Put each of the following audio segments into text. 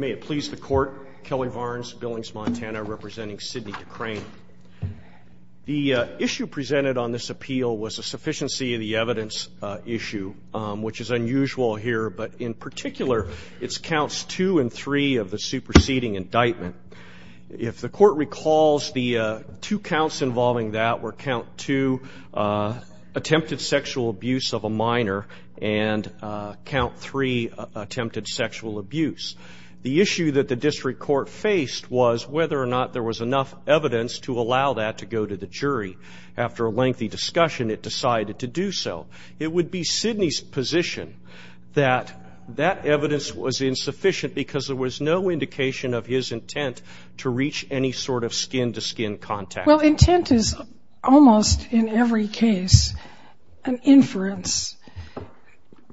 The issue presented on this appeal was a sufficiency of the evidence issue, which is unusual here, but in particular, it's counts 2 and 3 of the superseding indictment. If the court recalls, the two counts involving that were count 2, attempted sexual abuse of a minor, and count 3, attempted sexual abuse. The issue that the district court faced was whether or not there was enough evidence to allow that to go to the jury. After a lengthy discussion, it decided to do so. It would be Sidney's position that that evidence was insufficient because there was no indication of his intent to reach any sort of skin-to-skin contact. Well, intent is almost in every case an inference.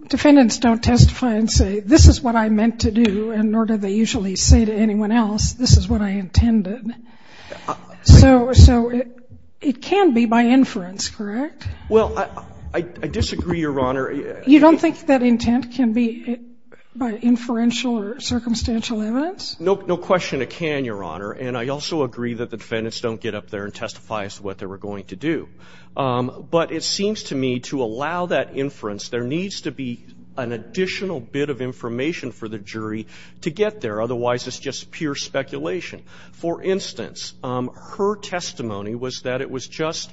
Defendants don't testify and say, this is what I meant to do, and nor do they usually say to anyone else, this is what I intended. So it can be by inference, correct? Well, I disagree, Your Honor. You don't think that intent can be by inferential or circumstantial evidence? No question it can, Your Honor, and I also agree that the defendants don't get up there and testify as to what they were going to do. But it seems to me to allow that inference, there needs to be an additional bit of information for the jury to get there. Otherwise, it's just pure speculation. For instance, her testimony was that it was just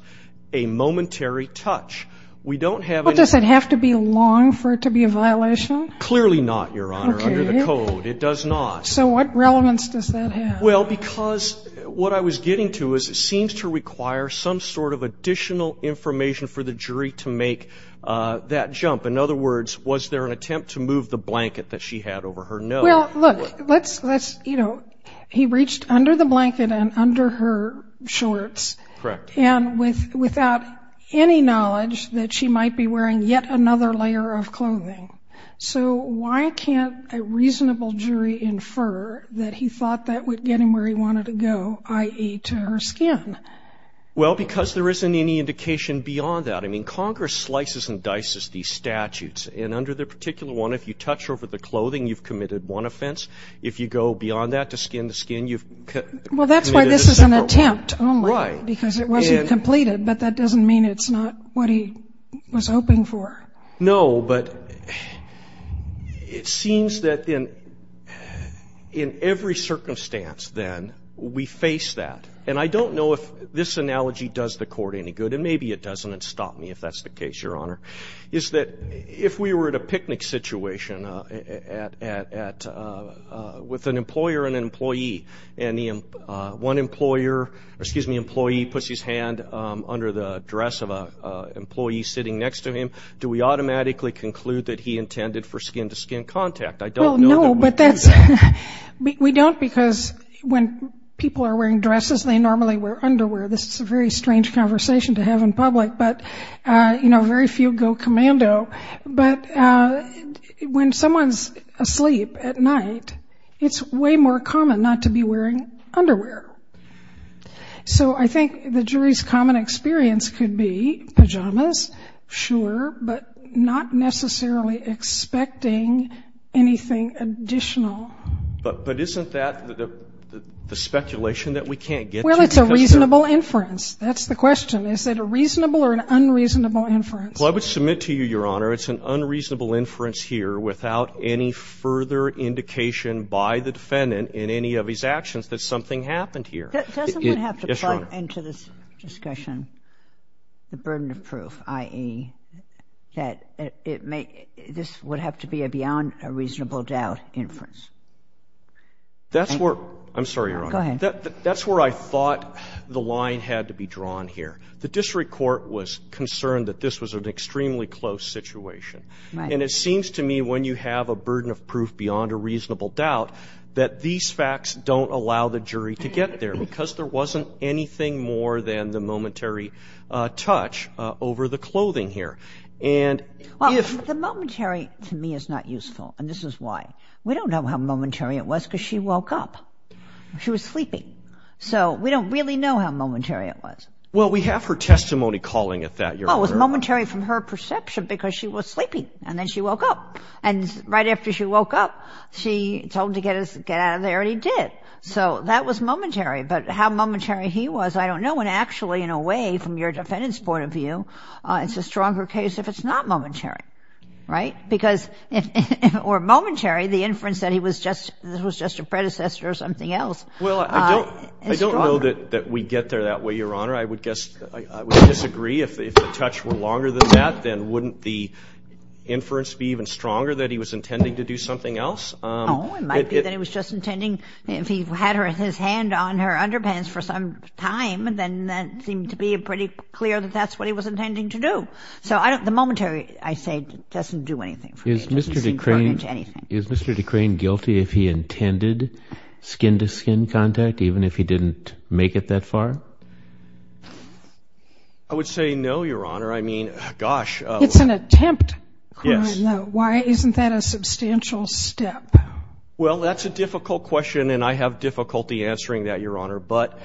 a momentary touch. We don't have any ---- Well, does it have to be long for it to be a violation? Clearly not, Your Honor, under the code. It does not. So what relevance does that have? Well, because what I was getting to is it seems to require some sort of additional information for the jury to make that jump. In other words, was there an attempt to move the blanket that she had over her nose? Well, look, let's, you know, he reached under the blanket and under her shorts. Correct. And without any knowledge that she might be wearing yet another layer of clothing. So why can't a reasonable jury infer that he thought that would get him where he wanted to go, i.e., to her skin? Well, because there isn't any indication beyond that. I mean, Congress slices and dices these statutes. And under the particular one, if you touch over the clothing, you've committed one offense. If you go beyond that to skin-to-skin, you've committed a separate one. Well, that's why this is an attempt only. Right. Because it wasn't completed, but that doesn't mean it's not what he was hoping for. No, but it seems that in every circumstance, then, we face that. And I don't know if this analogy does the Court any good, and maybe it doesn't, and stop me if that's the case, Your Honor, is that if we were at a picnic situation with an employer and an employee, and one employer or, excuse me, employee puts his hand under the dress of an employee sitting next to him, do we automatically conclude that he intended for skin-to-skin contact? I don't know that we do that. Well, no, but we don't because when people are wearing dresses, they normally wear underwear. This is a very strange conversation to have in public. But, you know, very few go commando. But when someone's asleep at night, it's way more common not to be wearing underwear. So I think the jury's common experience could be pajamas, sure, but not necessarily expecting anything additional. But isn't that the speculation that we can't get to? Well, it's a reasonable inference. That's the question. Is it a reasonable or an unreasonable inference? Well, I would submit to you, Your Honor, it's an unreasonable inference here without any further indication by the defendant in any of his actions that something happened here. Yes, Your Honor. Doesn't one have to plug into this discussion the burden of proof, i.e., that it may – this would have to be a beyond a reasonable doubt inference? That's where – I'm sorry, Your Honor. Go ahead. That's where I thought the line had to be drawn here. The district court was concerned that this was an extremely close situation. Right. And it seems to me when you have a burden of proof beyond a reasonable doubt that these facts don't allow the jury to get there because there wasn't anything more than the momentary touch over the clothing here. Well, the momentary to me is not useful, and this is why. We don't know how momentary it was because she woke up. She was sleeping. So we don't really know how momentary it was. Well, we have her testimony calling it that, Your Honor. Well, it was momentary from her perception because she was sleeping, and then she woke up. And right after she woke up, she told him to get out of there, and he did. So that was momentary. But how momentary he was, I don't know. And actually, in a way, from your defendant's point of view, it's a stronger case if it's not momentary. Right? Because if it were momentary, the inference that he was just a predecessor or something else is stronger. Well, I don't know that we get there that way, Your Honor. I would disagree. If the touch were longer than that, then wouldn't the inference be even stronger that he was intending to do something else? Oh, it might be that he was just intending if he had his hand on her underpants for some time, then that seemed to be pretty clear that that's what he was intending to do. So the momentary, I say, doesn't do anything for me. It doesn't seem pertinent to anything. Is Mr. Decrane guilty if he intended skin-to-skin contact, even if he didn't make it that far? I would say no, Your Honor. I mean, gosh. It's an attempt crime, though. Yes. Why isn't that a substantial step? Well, that's a difficult question, and I have difficulty answering that, Your Honor. But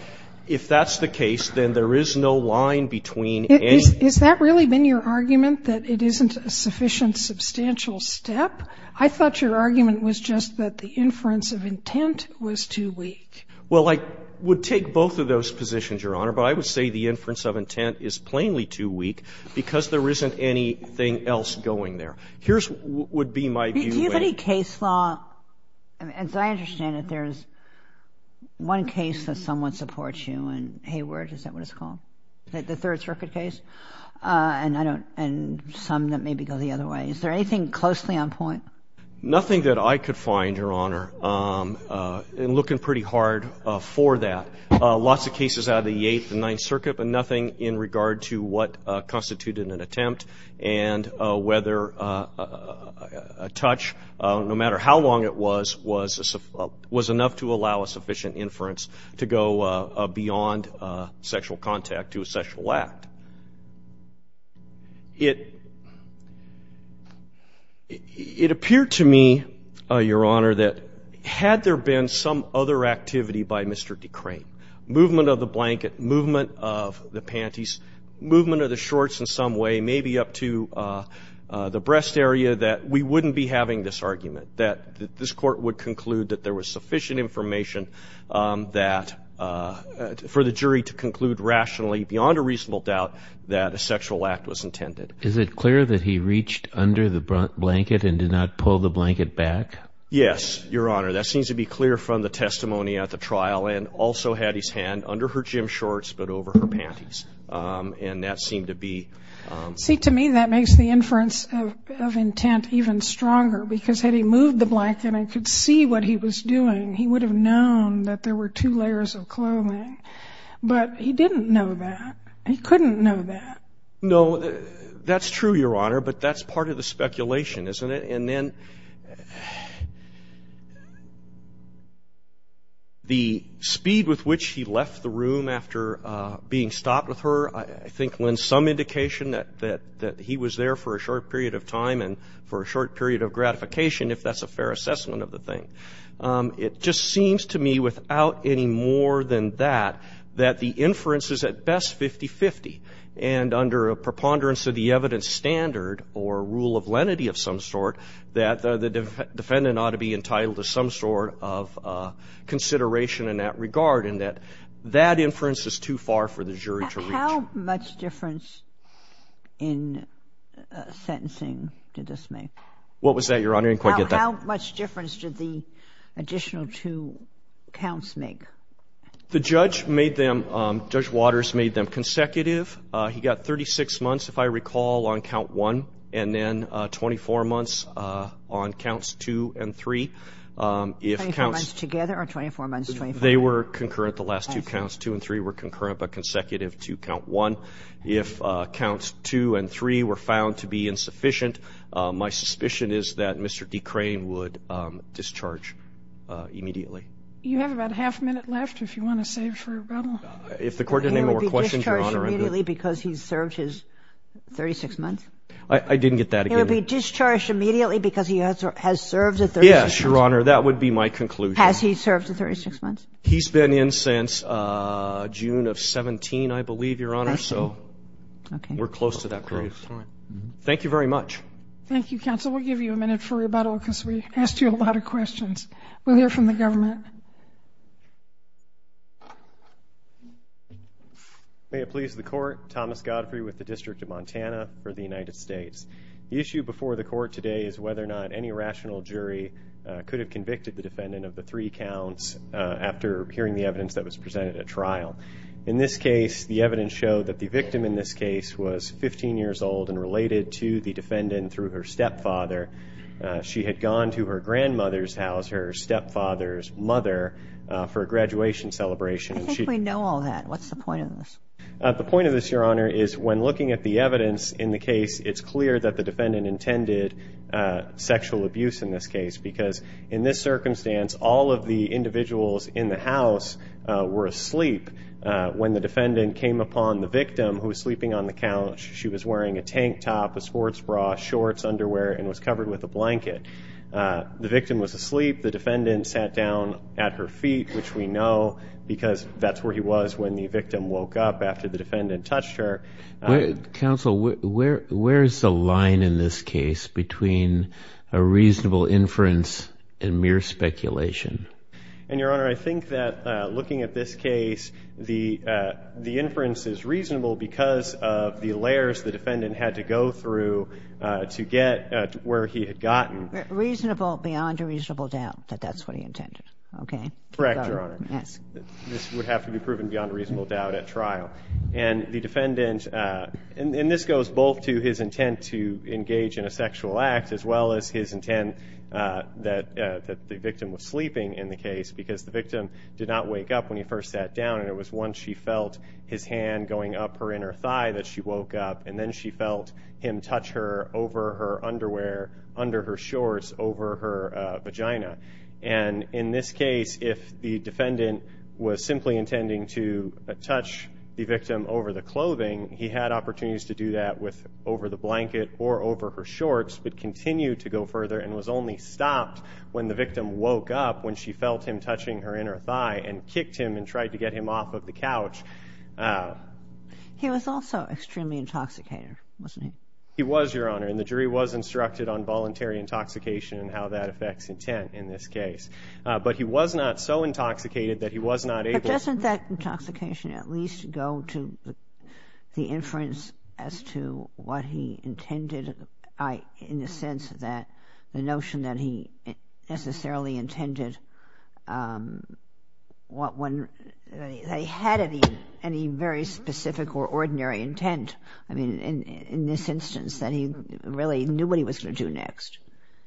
if that's the case, then there is no line between any of them. Has that really been your argument, that it isn't a sufficient, substantial step? I thought your argument was just that the inference of intent was too weak. Well, I would take both of those positions, Your Honor. But I would say the inference of intent is plainly too weak because there isn't anything else going there. Here's what would be my view. Do you have any case law? As I understand it, there's one case that somewhat supports you in Hayward. Is that what it's called? The Third Circuit case? And I don't know. And some that maybe go the other way. Is there anything closely on point? Nothing that I could find, Your Honor, in looking pretty hard for that. Lots of cases out of the Eighth and Ninth Circuit, but nothing in regard to what constituted an attempt and whether a touch, no matter how long it was, was enough to allow a sufficient inference to go beyond sexual contact to a sexual act. It appeared to me, Your Honor, that had there been some other activity by Mr. Decrane, movement of the blanket, movement of the panties, movement of the shorts in some way, maybe up to the breast area, that we wouldn't be having this argument, that this Court would conclude that there was sufficient information for the jury to that a sexual act was intended. Is it clear that he reached under the blanket and did not pull the blanket back? Yes, Your Honor. That seems to be clear from the testimony at the trial and also had his hand under her gym shorts but over her panties. And that seemed to be... See, to me, that makes the inference of intent even stronger because had he moved the blanket and could see what he was doing, he would have known that there were two layers of clothing. But he didn't know that. He couldn't know that. No, that's true, Your Honor, but that's part of the speculation, isn't it? And then the speed with which he left the room after being stopped with her, I think, lends some indication that he was there for a short period of time and for a short period of gratification, if that's a fair assessment of the thing. It just seems to me without any more than that that the inference is at best 50-50 and under a preponderance of the evidence standard or rule of lenity of some sort that the defendant ought to be entitled to some sort of consideration in that regard and that that inference is too far for the jury to reach. How much difference in sentencing did this make? What was that, Your Honor? I didn't quite get that. How much difference did the additional two counts make? The judge made them, Judge Waters made them consecutive. He got 36 months, if I recall, on count one and then 24 months on counts two and three. Twenty-four months together or 24 months together? They were concurrent. The last two counts, two and three, were concurrent but consecutive to count one. If counts two and three were found to be insufficient, my suspicion is that Mr. Decrane would discharge immediately. You have about a half minute left if you want to save for rebuttal. If the Court didn't have any more questions, Your Honor, I'm good. He would be discharged immediately because he served his 36 months? I didn't get that. He would be discharged immediately because he has served the 36 months? Yes, Your Honor. That would be my conclusion. Has he served the 36 months? He's been in since June of 17, I believe, Your Honor, so we're close to that period. Thank you very much. Thank you, counsel. We'll give you a minute for rebuttal because we asked you a lot of questions. We'll hear from the government. May it please the Court, Thomas Godfrey with the District of Montana for the United States. The issue before the Court today is whether or not any rational jury could have convicted the defendant of the three counts after hearing the evidence that was presented at trial. In this case, the evidence showed that the victim in this case was 15 years old and related to the defendant through her stepfather. She had gone to her grandmother's house, her stepfather's mother, for a graduation celebration. I think we know all that. What's the point of this? The point of this, Your Honor, is when looking at the evidence in the case, it's clear that the defendant intended sexual abuse in this case because in this circumstance all of the individuals in the house were asleep. When the defendant came upon the victim who was sleeping on the couch, she was wearing a tank top, a sports bra, shorts, underwear, and was covered with a blanket. The victim was asleep. The defendant sat down at her feet, which we know because that's where he was when the victim woke up after the defendant touched her. Counsel, where is the line in this case between a reasonable inference and mere speculation? And, Your Honor, I think that looking at this case, the inference is reasonable because of the layers the defendant had to go through to get where he had gotten. Reasonable beyond a reasonable doubt that that's what he intended, okay? Correct, Your Honor. Yes. This would have to be proven beyond a reasonable doubt at trial. And the defendant, and this goes both to his intent to engage in a sexual act as well as his intent that the victim was sleeping in the case because the victim did not wake up when he first sat down, and it was once she felt his hand going up her inner thigh that she woke up, and then she felt him touch her over her underwear, under her shorts, over her vagina. And in this case, if the defendant was simply intending to touch the victim over the clothing, he had opportunities to do that over the blanket or over her shorts, but continued to go further and was only stopped when the victim woke up when she felt him touching her inner thigh and kicked him and tried to get him off of the couch. He was also extremely intoxicated, wasn't he? He was, Your Honor. And the jury was instructed on voluntary intoxication and how that affects intent in this case. But he was not so intoxicated that he was not able to. But doesn't that intoxication at least go to the inference as to what he intended, in the sense that the notion that he necessarily intended, that he had any very specific or ordinary intent, I mean, in this instance, that he really knew what he was going to do next.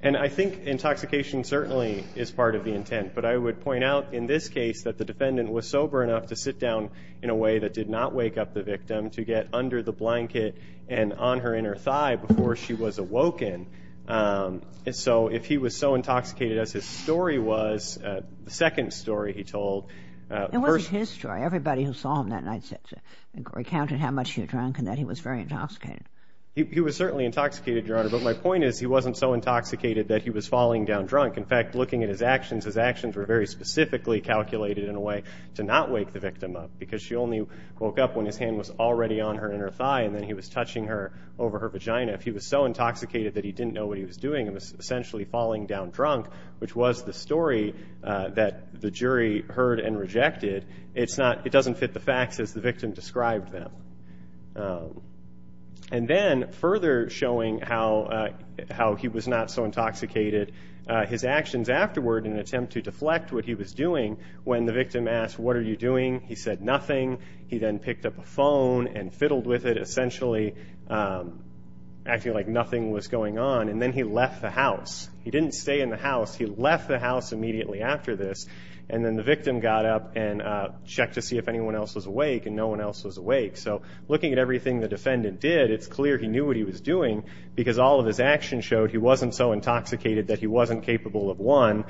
And I think intoxication certainly is part of the intent. But I would point out in this case that the defendant was sober enough to sit down in a way that did not wake up the victim, to get under the blanket and on her inner thigh before she was awoken. So if he was so intoxicated as his story was, the second story he told. It wasn't his story. Everybody who saw him that night recounted how much he was drunk and that he was very intoxicated. He was certainly intoxicated, Your Honor. But my point is he wasn't so intoxicated that he was falling down drunk. In fact, looking at his actions, his actions were very specifically calculated in a way to not wake the victim up, because she only woke up when his hand was already on her inner thigh and then he was touching her over her vagina. If he was so intoxicated that he didn't know what he was doing and was essentially falling down drunk, which was the story that the jury heard and rejected, it doesn't fit the facts as the victim described them. And then further showing how he was not so intoxicated, his actions afterward in an attempt to deflect what he was doing when the victim asked, What are you doing? He said nothing. He then picked up a phone and fiddled with it, essentially acting like nothing was going on, and then he left the house. He didn't stay in the house. He left the house immediately after this, and then the victim got up and checked to see if anyone else was awake, and no one else was awake. So looking at everything the defendant did, it's clear he knew what he was doing, because all of his actions showed he wasn't so intoxicated that he wasn't capable of, one,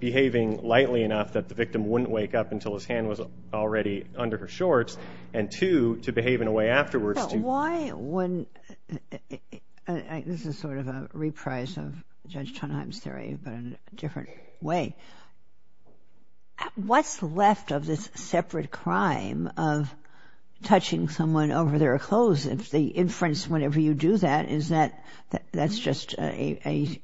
behaving lightly enough that the victim wouldn't wake up until his hand was already under her shorts, and two, to behave in a way afterwards to This is sort of a reprise of Judge Tonheim's theory, but in a different way. What's left of this separate crime of touching someone over their clothes, if the inference whenever you do that is that that's just a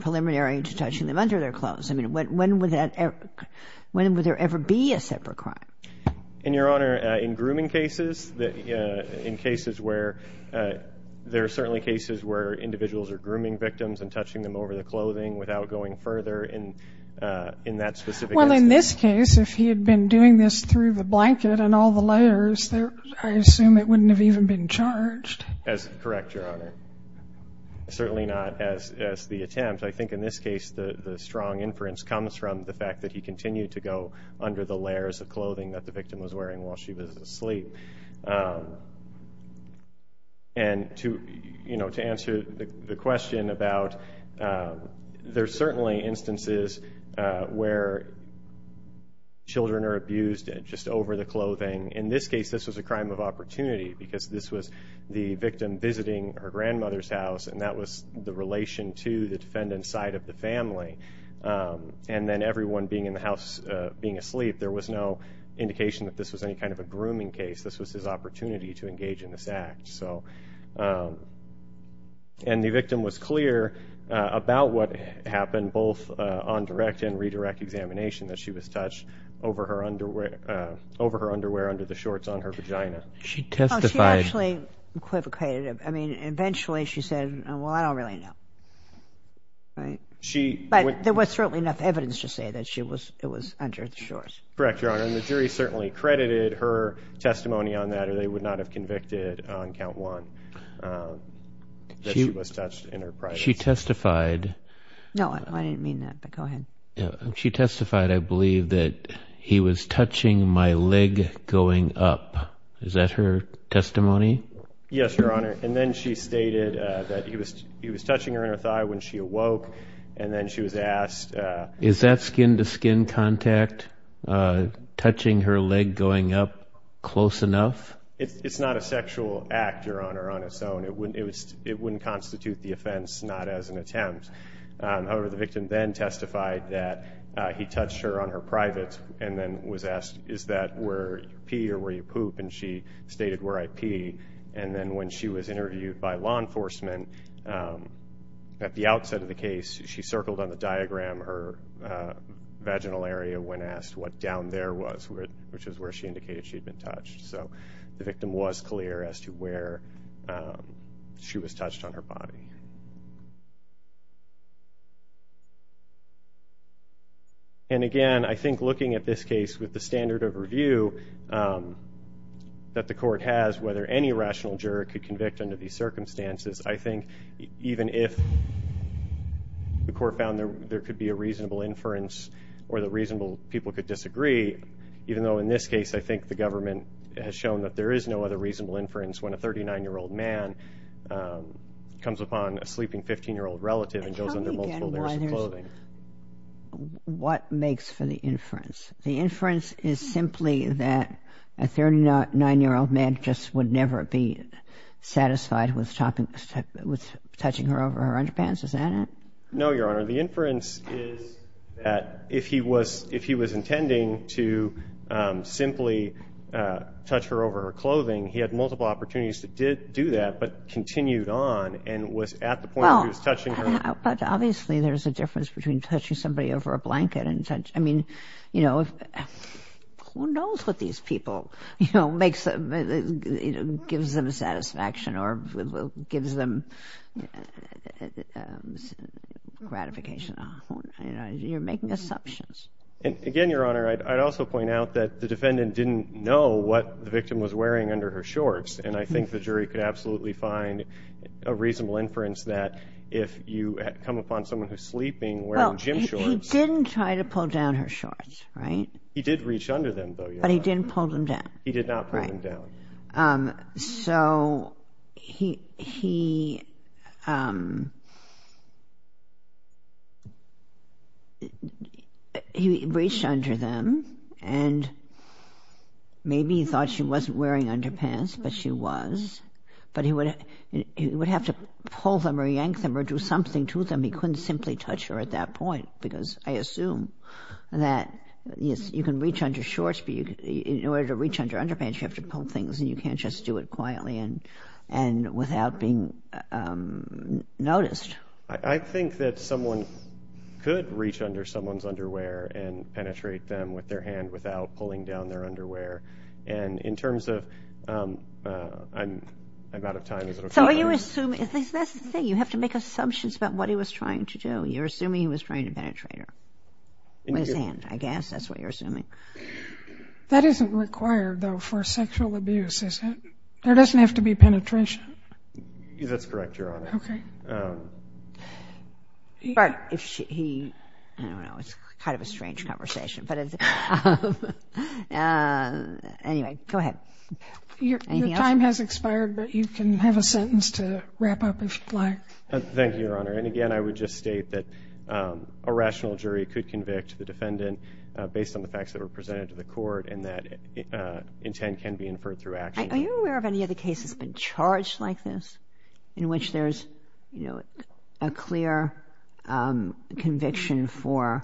preliminary to touching them under their clothes? I mean, when would there ever be a separate crime? Your Honor, in grooming cases, in cases where there are certainly cases where individuals are grooming victims and touching them over their clothing without going further in that specific instance. Well, in this case, if he had been doing this through the blanket and all the layers, I assume it wouldn't have even been charged. That's correct, Your Honor. Certainly not as the attempt. I think in this case the strong inference comes from the fact that he continued to go under the layers of clothing that the victim was wearing while she was asleep. And to answer the question about there's certainly instances where children are abused just over the clothing. In this case, this was a crime of opportunity because this was the victim visiting her grandmother's house, and that was the relation to the defendant's side of the family. And then everyone being in the house being asleep, there was no indication that this was any kind of a grooming case. This was his opportunity to engage in this act. And the victim was clear about what happened both on direct and redirect examination, that she was touched over her underwear under the shorts on her vagina. She testified. She actually equivocated. I mean, eventually she said, well, I don't really know. Right. But there was certainly enough evidence to say that it was under the shorts. Correct, Your Honor, and the jury certainly credited her testimony on that, or they would not have convicted on count one that she was touched in her privacy. She testified. No, I didn't mean that, but go ahead. She testified, I believe, that he was touching my leg going up. Is that her testimony? Yes, Your Honor. And then she stated that he was touching her inner thigh when she awoke, and then she was asked. Is that skin-to-skin contact, touching her leg going up close enough? It's not a sexual act, Your Honor, on its own. It wouldn't constitute the offense, not as an attempt. However, the victim then testified that he touched her on her private and then was asked, is that where you pee or where you poop, and she stated where I pee. And then when she was interviewed by law enforcement, at the outset of the case, she circled on the diagram her vaginal area when asked what down there was, which is where she indicated she had been touched. So the victim was clear as to where she was touched on her body. And, again, I think looking at this case with the standard of review that the court has, whether any rational juror could convict under these circumstances, I think even if the court found there could be a reasonable inference or that reasonable people could disagree, even though in this case, I think the government has shown that there is no other reasonable inference when a 39-year-old man comes upon a sleeping 15-year-old relative and goes under multiple layers of clothing. Tell me again what makes for the inference. The inference is simply that a 39-year-old man just would never be satisfied with touching her over her underpants, is that it? No, Your Honor. The inference is that if he was intending to simply touch her over her clothing, he had multiple opportunities to do that, but continued on and was at the point where he was touching her. But, obviously, there's a difference between touching somebody over a blanket. I mean, you know, who knows what these people, you know, gives them satisfaction or gives them gratification. You're making assumptions. Again, Your Honor, I'd also point out that the defendant didn't know what the victim was wearing under her shorts, and I think the jury could absolutely find a reasonable inference that if you come upon someone who's sleeping wearing gym shorts... Well, he didn't try to pull down her shorts, right? He did reach under them, though, Your Honor. But he didn't pull them down. He did not pull them down. So he reached under them, and maybe he thought she wasn't wearing underpants, but she was. But he would have to pull them or yank them or do something to them. He couldn't simply touch her at that point, because I assume that you can reach under shorts, but in order to reach under underpants, you have to pull things, and you can't just do it quietly and without being noticed. I think that someone could reach under someone's underwear and penetrate them with their hand without pulling down their underwear. And in terms of... I'm out of time. So you assume... That's the thing. You have to make assumptions about what he was trying to do. You're assuming he was trying to penetrate her with his hand, I guess. That's what you're assuming. That isn't required, though, for sexual abuse, is it? There doesn't have to be penetration. That's correct, Your Honor. Okay. But if he... I don't know. It's kind of a strange conversation. Anyway, go ahead. Your time has expired, but you can have a sentence to wrap up if you'd like. Thank you, Your Honor. And, again, I would just state that a rational jury could convict the defendant based on the facts that were presented to the court, and that intent can be inferred through action. Are you aware of any other cases that have been charged like this in which there's a clear conviction for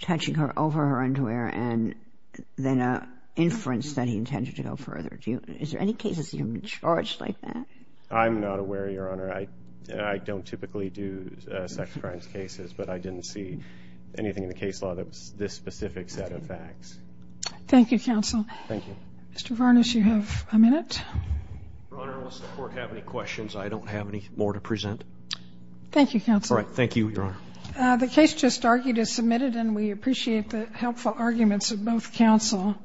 touching her over her underwear and then an inference that he intended to go further? Is there any cases that have been charged like that? I'm not aware, Your Honor. I don't typically do sex crimes cases, but I didn't see anything in the case law that was this specific set of facts. Thank you, counsel. Thank you. Mr. Varnas, you have a minute. Your Honor, unless the court has any questions, I don't have any more to present. Thank you, counsel. All right, thank you, Your Honor. The case just argued is submitted, and we appreciate the helpful arguments of both counsel.